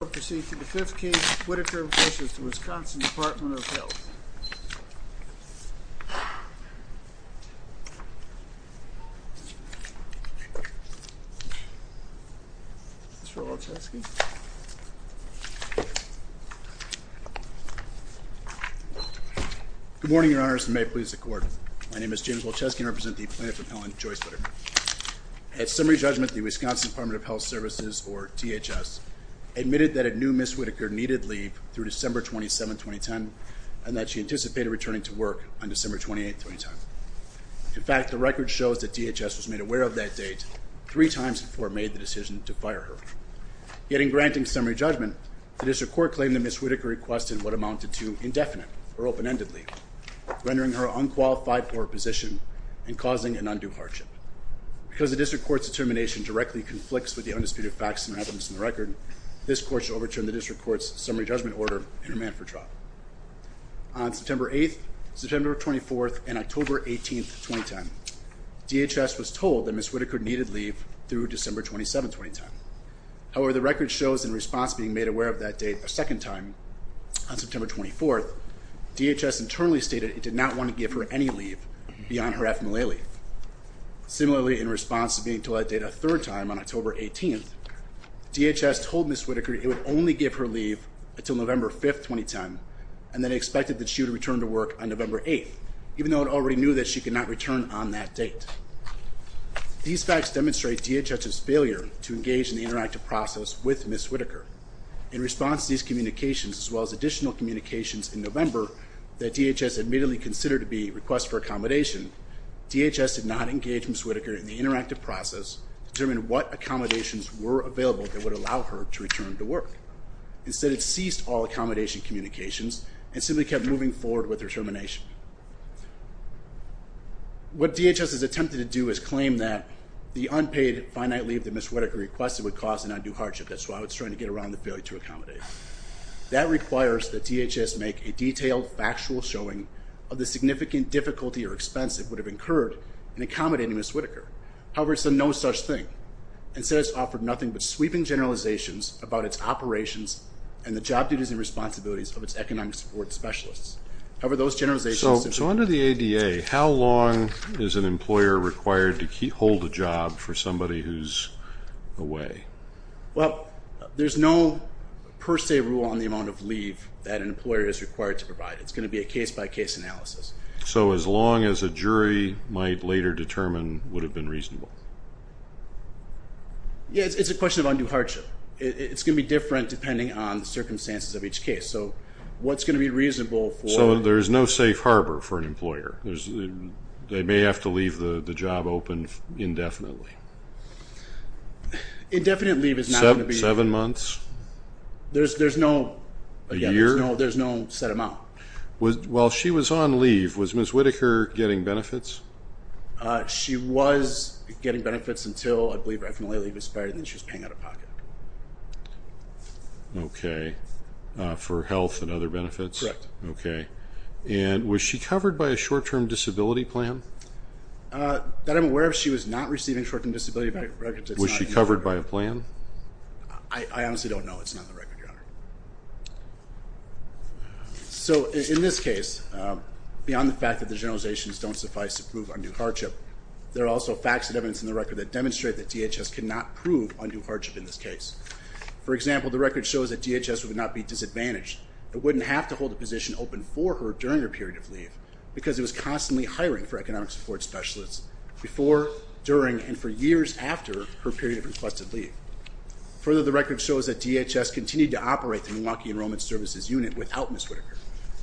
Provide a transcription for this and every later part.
We will now proceed to the fifth case, Whitaker v. Wisconsin Department of Health. Good morning, Your Honors, and may it please the Court. My name is James Wolczewski and I represent the Plaintiff Appellant, Joyce Whitaker. At summary judgment, the Wisconsin Department of Health Services, or DHS, admitted that it knew Ms. Whitaker needed leave through December 27, 2010, and that she anticipated returning to work on December 28, 2010. In fact, the record shows that DHS was made aware of that date three times before it made the decision to fire her. Yet in granting summary judgment, the District Court claimed that Ms. Whitaker requested what amounted to indefinite or open-ended leave, rendering her unqualified for her position and causing an undue hardship. Because the District Court's determination directly conflicts with the undisputed facts and evidence in the record, this Court should overturn the District Court's summary judgment order and remand for trial. On September 8, September 24, and October 18, 2010, DHS was told that Ms. Whitaker needed leave through December 27, 2010. However, the record shows in response being made aware of that date a second time, on September 24, DHS internally stated it did not want to give her any leave beyond her FMLA leave. Similarly, in response to being told that date a third time on October 18, DHS told Ms. Whitaker it would only give her leave until November 5, 2010, and that it expected that she would return to work on November 8, even though it already knew that she could not return on that date. These facts demonstrate DHS's failure to engage in the interactive process with Ms. Whitaker. In response to these communications, as well as additional communications in November that DHS admittedly considered to be requests for accommodation, DHS did not engage Ms. Whitaker in the interactive process to determine what accommodations were available that would allow her to return to work. Instead, it ceased all accommodation communications and simply kept moving forward with her termination. What DHS has attempted to do is claim that the unpaid, finite leave that Ms. Whitaker requested would cause an undue hardship. That's why it's trying to get around the failure to accommodate. That requires that DHS make a detailed, factual showing of the significant difficulty or expense it would have incurred in accommodating Ms. Whitaker. However, it's a no such thing. Instead, it's offered nothing but sweeping generalizations about its operations and the job duties and responsibilities of its economic support specialists. So under the ADA, how long is an employer required to hold a job for somebody who's away? Well, there's no per se rule on the amount of leave that an employer is required to provide. It's going to be a case-by-case analysis. So as long as a jury might later determine would have been reasonable? Yeah, it's a question of undue hardship. It's going to be different depending on the circumstances of each case. So what's going to be reasonable for... So there's no safe harbor for an employer. They may have to leave the job open indefinitely. Indefinite leave is not going to be... Seven months? There's no set amount. While she was on leave, was Ms. Whitaker getting benefits? She was getting benefits until, I believe right from the late leave expired, and then she was paying out of pocket. Okay. For health and other benefits? Correct. Okay. And was she covered by a short-term disability plan? That I'm aware of, she was not receiving short-term disability records. Was she covered by a plan? So in this case, beyond the fact that the generalizations don't suffice to prove undue hardship, there are also facts and evidence in the record that demonstrate that DHS cannot prove undue hardship in this case. For example, the record shows that DHS would not be disadvantaged. It wouldn't have to hold a position open for her during her period of leave because it was constantly hiring for economic support specialists before, during, and for years after her period of requested leave. Further, the record shows that DHS continued to operate the Milwaukee Enrollment Services Unit without Ms. Whitaker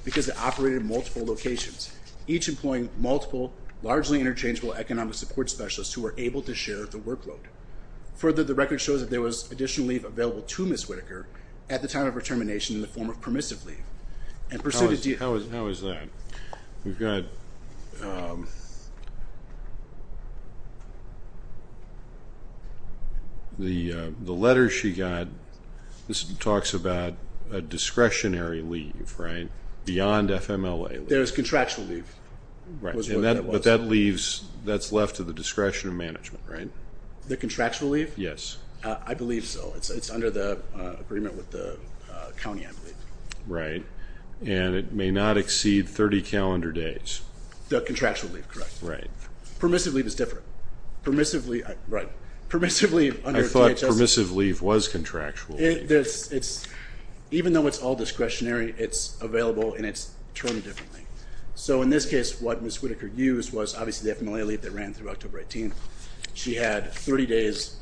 because it operated in multiple locations, each employing multiple, largely interchangeable economic support specialists who were able to share the workload. Further, the record shows that there was additional leave available to Ms. Whitaker at the time of her termination in the form of permissive leave. How is that? We've got the letters she got. This talks about a discretionary leave, right, beyond FMLA. There's contractual leave. But that leaves, that's left to the discretion of management, right? The contractual leave? Yes. I believe so. It's under the agreement with the county, I believe. Right. And it may not exceed 30 calendar days. The contractual leave, correct. Right. Permissive leave is different. Permissive leave, right. I thought permissive leave was contractual leave. Even though it's all discretionary, it's available in its term differently. So in this case, what Ms. Whitaker used was obviously the FMLA leave that ran through October 18. She had 30 days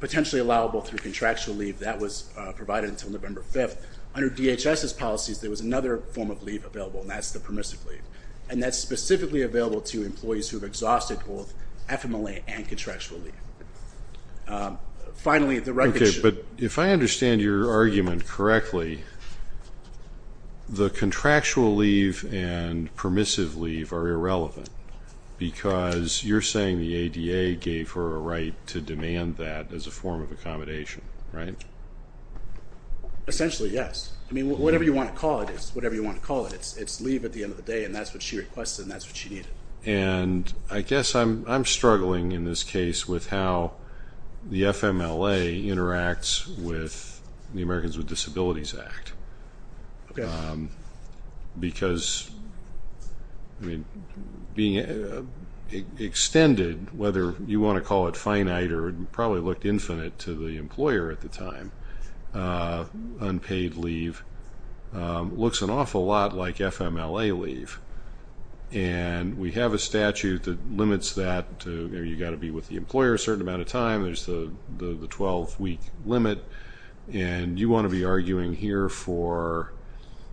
potentially allowable through contractual leave. That was provided until November 5th. Under DHS's policies, there was another form of leave available, and that's the permissive leave. And that's specifically available to employees who have exhausted both FMLA and contractual leave. Finally, the record should... Okay, but if I understand your argument correctly, the contractual leave and permissive leave are irrelevant because you're saying the ADA gave her a right to demand that as a form of accommodation, right? Essentially, yes. I mean, whatever you want to call it, it's leave at the end of the day, and that's what she requested, and that's what she needed. And I guess I'm struggling in this case with how the FMLA interacts with the Americans with Disabilities Act. Okay. Because, I mean, being extended, whether you want to call it finite or probably looked infinite to the employer at the time, unpaid leave looks an awful lot like FMLA leave. And we have a statute that limits that to you've got to be with the employer a certain amount of time. There's the 12-week limit. And you want to be arguing here for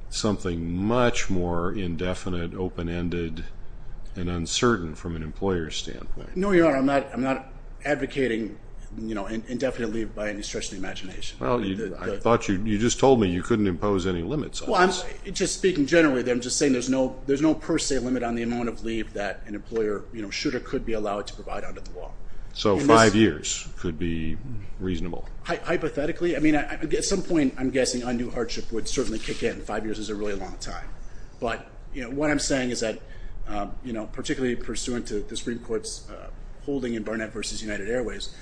something much more indefinite, open-ended, and uncertain from an employer's standpoint. No, Your Honor. I'm not advocating indefinite leave by any stretch of the imagination. Well, I thought you just told me you couldn't impose any limits on this. Well, just speaking generally, I'm just saying there's no per se limit on the amount of leave that an employer should or could be allowed to provide under the law. So five years could be reasonable? Hypothetically. I mean, at some point, I'm guessing undue hardship would certainly kick in. Five years is a really long time. But, you know, what I'm saying is that, you know, particularly pursuant to the Supreme Court's holding in Barnett v. United Airways,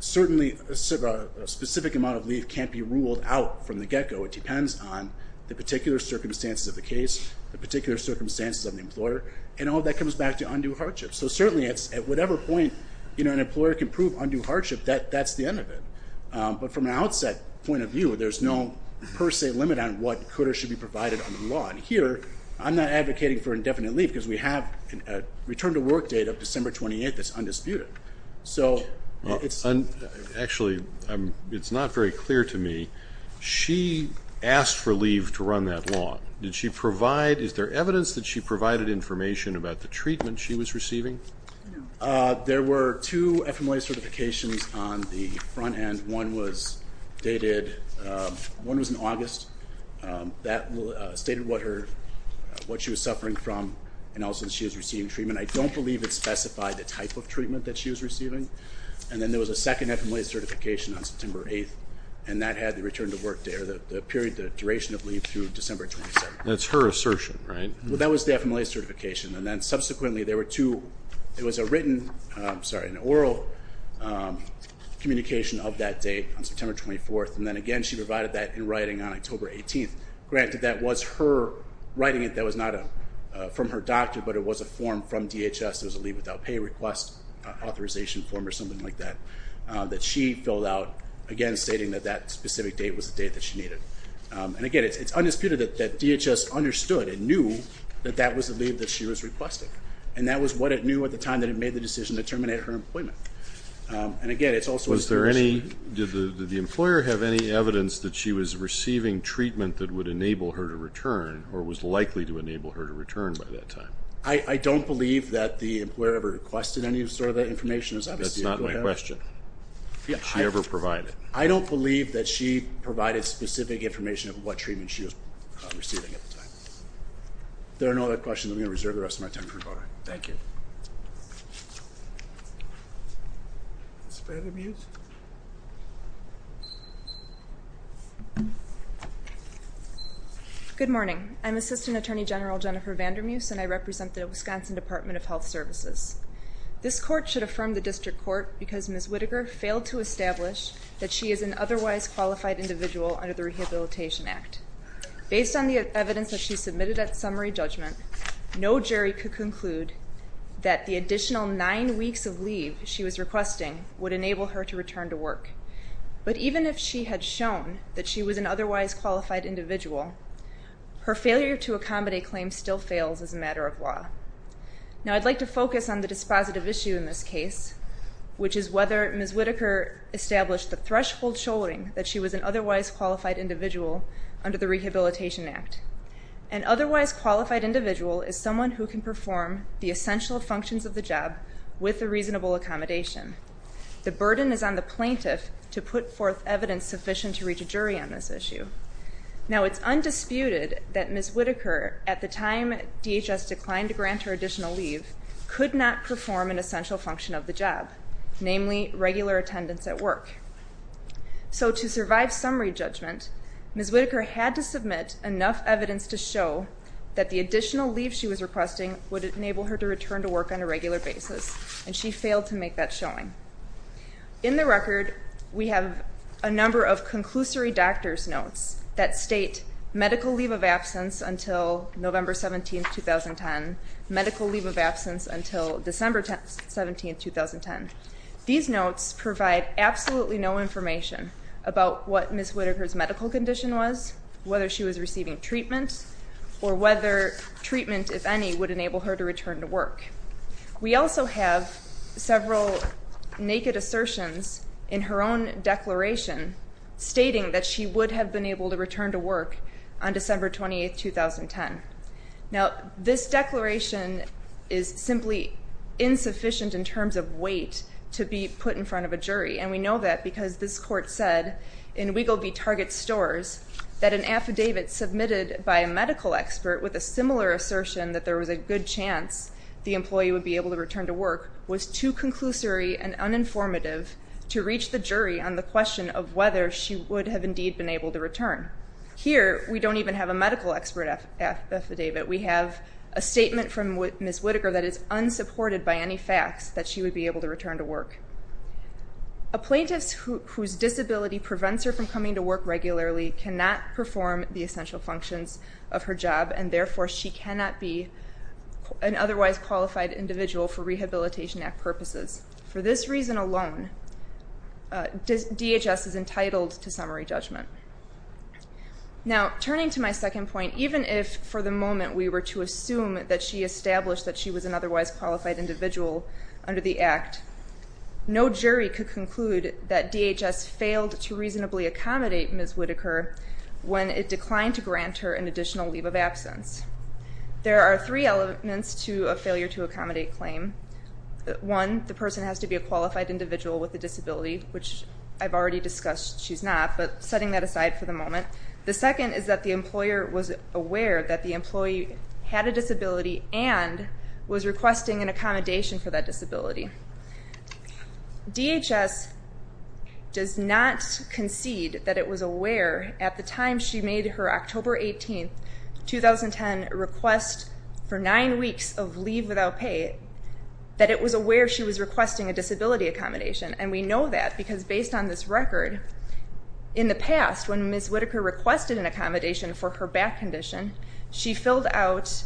certainly a specific amount of leave can't be ruled out from the get-go. It depends on the particular circumstances of the case, the particular circumstances of the employer, and all that comes back to undue hardship. So certainly at whatever point, you know, an employer can prove undue hardship, that's the end of it. But from an outset point of view, there's no per se limit on what could or should be provided under the law. I'm not advocating for indefinite leave because we have a return-to-work date of December 28th that's undisputed. So it's... Actually, it's not very clear to me. She asked for leave to run that long. Did she provide... Is there evidence that she provided information about the treatment she was receiving? There were two FMLA certifications on the front end. One was dated... One was in August. That stated what her... What she was suffering from and also that she was receiving treatment. I don't believe it specified the type of treatment that she was receiving. And then there was a second FMLA certification on September 8th, and that had the return-to-work date, or the period, the duration of leave through December 27th. That's her assertion, right? Well, that was the FMLA certification, and then subsequently there were two... It was a written... I'm sorry, an oral... communication of that date on September 24th, and then, again, she provided that in writing on October 18th. Granted, that was her writing it. That was not from her doctor, but it was a form from DHS. It was a leave-without-pay request authorization form or something like that that she filled out, again, stating that that specific date was the date that she needed. And, again, it's undisputed that DHS understood and knew that that was the leave that she was requesting, and that was what it knew at the time that it made the decision to terminate her employment. And, again, it's also... Did the employer have any evidence that she was receiving treatment that would enable her to return or was likely to enable her to return by that time? I don't believe that the employer ever requested any sort of that information. That's not my question. Did she ever provide it? I don't believe that she provided specific information of what treatment she was receiving at the time. If there are no other questions, I'm going to reserve the rest of my time for rebuttal. Thank you. Ms. Vandermuse? Good morning. I'm Assistant Attorney General Jennifer Vandermuse, and I represent the Wisconsin Department of Health Services. This court should affirm the district court because Ms. Whittaker failed to establish that she is an otherwise qualified individual under the Rehabilitation Act. Based on the evidence that she submitted at summary judgment, no jury could conclude that the additional nine weeks of leave she was requesting would enable her to return to work. But even if she had shown that she was an otherwise qualified individual, her failure to accommodate claims still fails as a matter of law. Now, I'd like to focus on the dispositive issue in this case, which is whether Ms. Whittaker established the threshold shouldering that she was an otherwise qualified individual under the Rehabilitation Act. An otherwise qualified individual is someone who can perform the essential functions of the job with a reasonable accommodation. The burden is on the plaintiff to put forth evidence sufficient to reach a jury on this issue. Now, it's undisputed that Ms. Whittaker, at the time DHS declined to grant her additional leave, could not perform an essential function of the job, namely regular attendance at work. So to survive summary judgment, Ms. Whittaker had to submit enough evidence to show that the additional leave she was requesting would enable her to return to work on a regular basis, and she failed to make that showing. In the record, we have a number of conclusory doctor's notes that state medical leave of absence until November 17, 2010, medical leave of absence until December 17, 2010. These notes provide absolutely no information about what Ms. Whittaker's medical condition was, whether she was receiving treatment, or whether she was able to return to work. We also have several naked assertions in her own declaration stating that she would have been able to return to work on December 28, 2010. Now, this declaration is simply insufficient in terms of weight to be put in front of a jury, and we know that because this court said in Weigel v. Target Stores that an affidavit submitted by a medical expert stating that the employee would be able to return to work was too conclusory and uninformative to reach the jury on the question of whether she would have indeed been able to return. Here, we don't even have a medical expert affidavit. We have a statement from Ms. Whittaker that is unsupported by any facts that she would be able to return to work. A plaintiff whose disability prevents her from coming to work regularly cannot perform the essential functions of her job, and is not a qualified individual for Rehabilitation Act purposes. For this reason alone, DHS is entitled to summary judgment. Now, turning to my second point, even if for the moment we were to assume that she established that she was an otherwise qualified individual under the Act, no jury could conclude that DHS failed to reasonably accommodate Ms. Whittaker when it declined to grant her the two requirements to accommodate a claim. One, the person has to be a qualified individual with a disability, which I've already discussed she's not, but setting that aside for the moment. The second is that the employer was aware that the employee had a disability and was requesting an accommodation for that disability. DHS does not concede that it was aware at the time she made her October 18, 2010 leave without pay that it was aware she was requesting a disability accommodation, and we know that because based on this record, in the past, when Ms. Whittaker requested an accommodation for her back condition, she filled out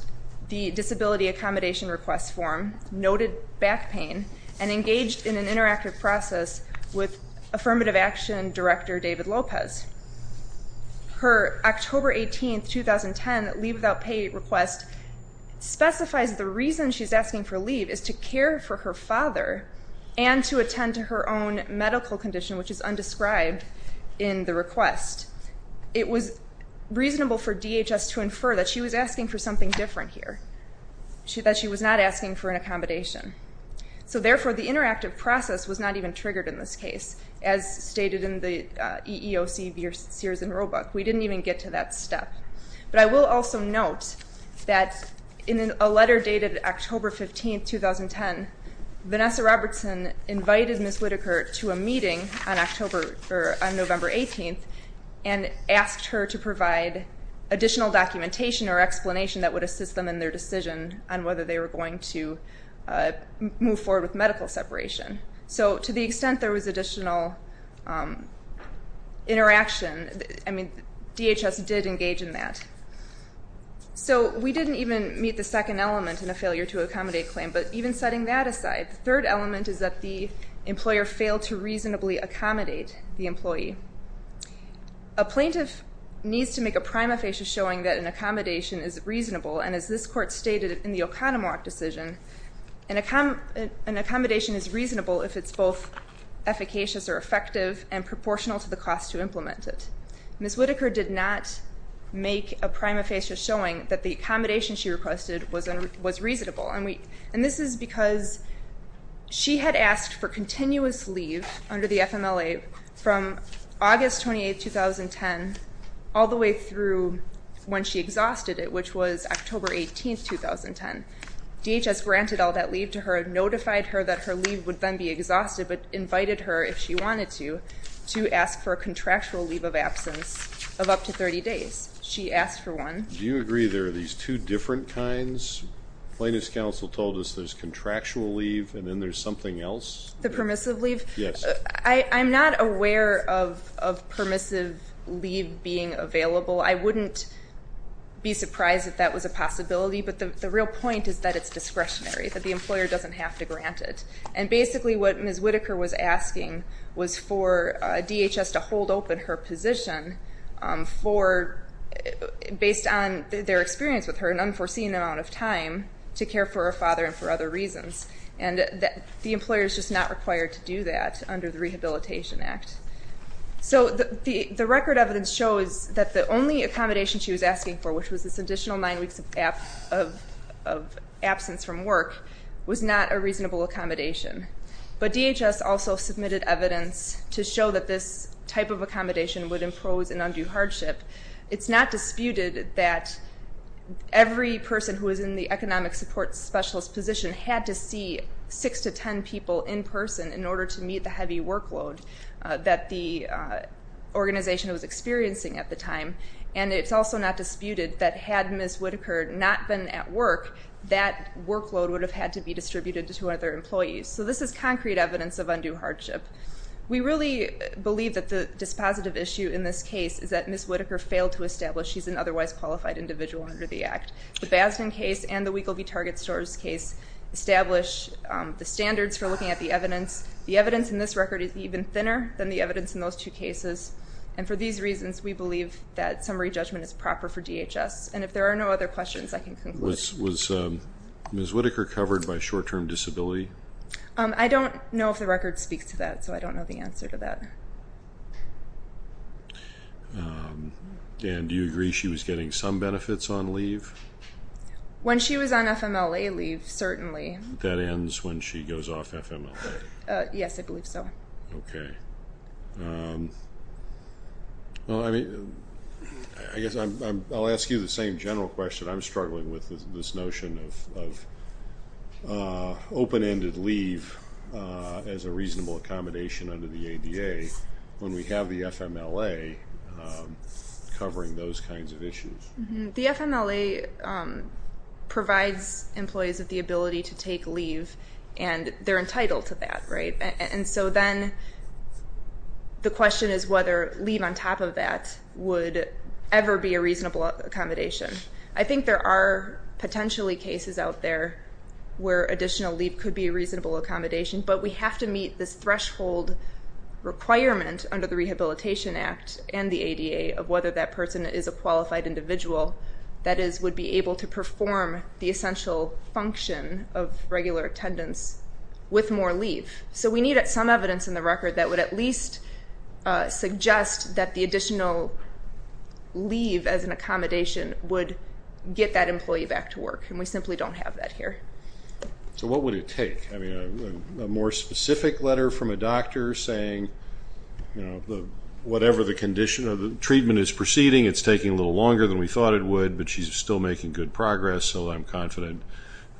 the disability accommodation request form, noted back pain, and engaged in an interactive process with Affirmative Action Director who was asking for leave is to care for her father and to attend to her own medical condition, which is undescribed in the request. It was reasonable for DHS to infer that she was asking for something different here, that she was not asking for an accommodation. So therefore, the interactive process was not even triggered in this case, as stated in the EEOC Sears and Roebuck. We didn't even get to that step. But I will also note that in a letter dated October 15, 2010, Vanessa Robertson invited Ms. Whittaker to a meeting on November 18 and asked her to provide additional documentation or explanation that would assist them in their decision move forward with medical separation. So to the extent there was additional interaction, I mean, there was no need for additional documentation on that. So we didn't even meet the second element in a failure-to-accommodate claim, but even setting that aside, the third element is that the employer failed to reasonably accommodate the employee. A plaintiff needs to make a prima facie showing that an accommodation is reasonable, and as this court stated in the Oconomowoc decision, an accommodation is reasonable if it's both efficacious or effective and proportional to the cost to implement it. Ms. Whittaker did not make a prima facie showing that the accommodation she requested was reasonable. And this is because she had asked for continuous leave under the FMLA from August 28, 2010 all the way through when she exhausted it, which was October 18, 2010. DHS granted all that leave to her, notified her that her leave would then be exhausted, but invited her, if she wanted to, to ask for a contractual leave of absence of up to 30 days. She asked for one. Do you agree there are these two different kinds? Plaintiff's counsel told us there's contractual leave and then there's something else? The permissive leave? Yes. I'm not aware of permissive leave being available. I wouldn't be surprised if that was a possibility, but the real point is that it's discretionary, that the employer doesn't have to grant it. And basically, what Ms. Whittaker was asking was for DHS to hold open her position for, based on their experience with her, an unforeseen amount of time to care for her father and for other reasons. And the employer is just not required to do that under the Rehabilitation Act. So the record evidence shows that the only accommodation she was asking for, which was this additional nine weeks of absence from work, was not a reasonable accommodation. But DHS also submitted evidence to show that this type of accommodation would impose an undue hardship. It's not disputed that every person who is in the economic support specialist position had to see six to ten people in person in order to meet the heavy workload that the organization was experiencing at the time. And it's also not disputed that had Ms. Whitaker not been at work, that workload would have had to be distributed to other employees. So this is concrete evidence of undue hardship. We really believe that the dispositive issue in this case is that Ms. Whitaker failed to establish she's an otherwise qualified individual under the Act. The Basman case and the Weigel v. Target Stores case establish the standards for looking at the evidence. The evidence in this record is even thinner than the evidence in those two cases. And for these reasons we believe that summary judgment is proper for DHS. And if there are no other questions I can conclude. Was Ms. Whitaker covered by short term disability? I don't know if the record speaks to that so I don't know the answer to that. And do you agree she was getting some benefits on leave? When she was on FMLA leave certainly. That ends when she goes off FMLA? Yes, I believe so. Okay. I guess I'll ask you the same general question. I'm struggling with this notion of open-ended leave as a reasonable accommodation under the ADA when we have the FMLA covering those kinds of issues. The FMLA And so then I don't know the answer to that. I don't know the answer to that. I don't know the answer to that. I don't know the question is whether leave on top of that would ever be a reasonable accommodation. I think there are potentially cases out there where additional leave could be a reasonable accommodation but we have to meet this threshold requirement under the Rehabilitation Act and the ADA of whether that person is a qualified individual that would be able to perform the essential function of regular attendance with more leave. So we need some evidence in the record that would at least suggest that the additional leave as an accommodation would get that employee back to work and we simply don't have that here. So what would it take? A more specific letter from a doctor saying whatever the condition of the treatment is proceeding it's taking a little longer than we thought it would but she's still making good progress so I'm confident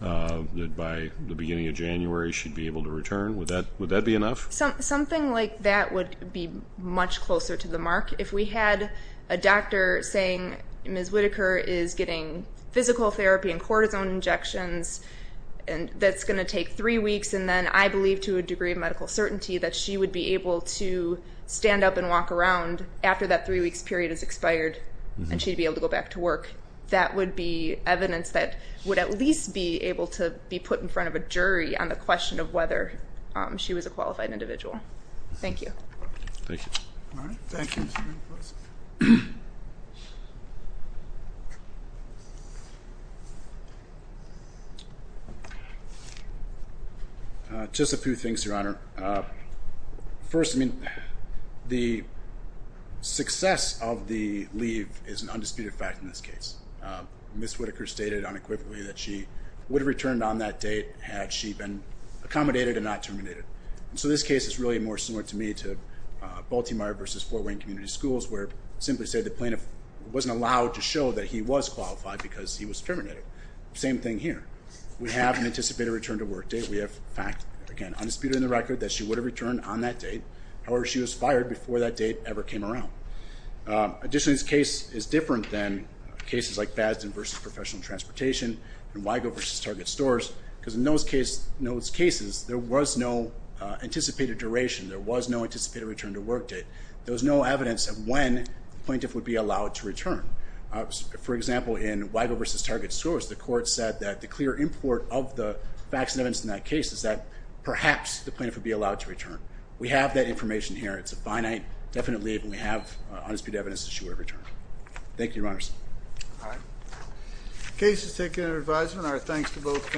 that by the beginning of January she'd be able to return. Would that be enough? Something like that would be much closer to the mark. If we had a doctor saying Ms. Whittaker is getting physical therapy and cortisone injections and that's going to take three weeks to get her back to work that would be evidence that would at least be able to be put in front of a jury on the whether she was a qualified individual. Thank you. Thank you. All right. Thank you. Just a few things Your Honor. The first I mean the success of the leave is an undisputed fact in this case. Ms. Whittaker stated unequivocally that she would have returned on that date had she been accommodated and not terminated. So this case is really more similar to me to Baltimore versus Fort Wayne where she would have returned on that date however she was fired before that date ever came around. Additionally this case is different than cases like Fasden versus professional transportation and Weigel versus Target stores because in those cases there was no anticipated duration there was no return to work date there was no evidence of when the plaintiff would be allowed to return. For example in Weigel versus Target stores the court said that the clear import of the facts and evidence in that case is that perhaps the plaintiff would be allowed to return. We have that information here. It's a finite definite leave and we have undisputed evidence that she would have returned. Thank you Your Honor. The case is taken under advisement and our thanks to both counsel.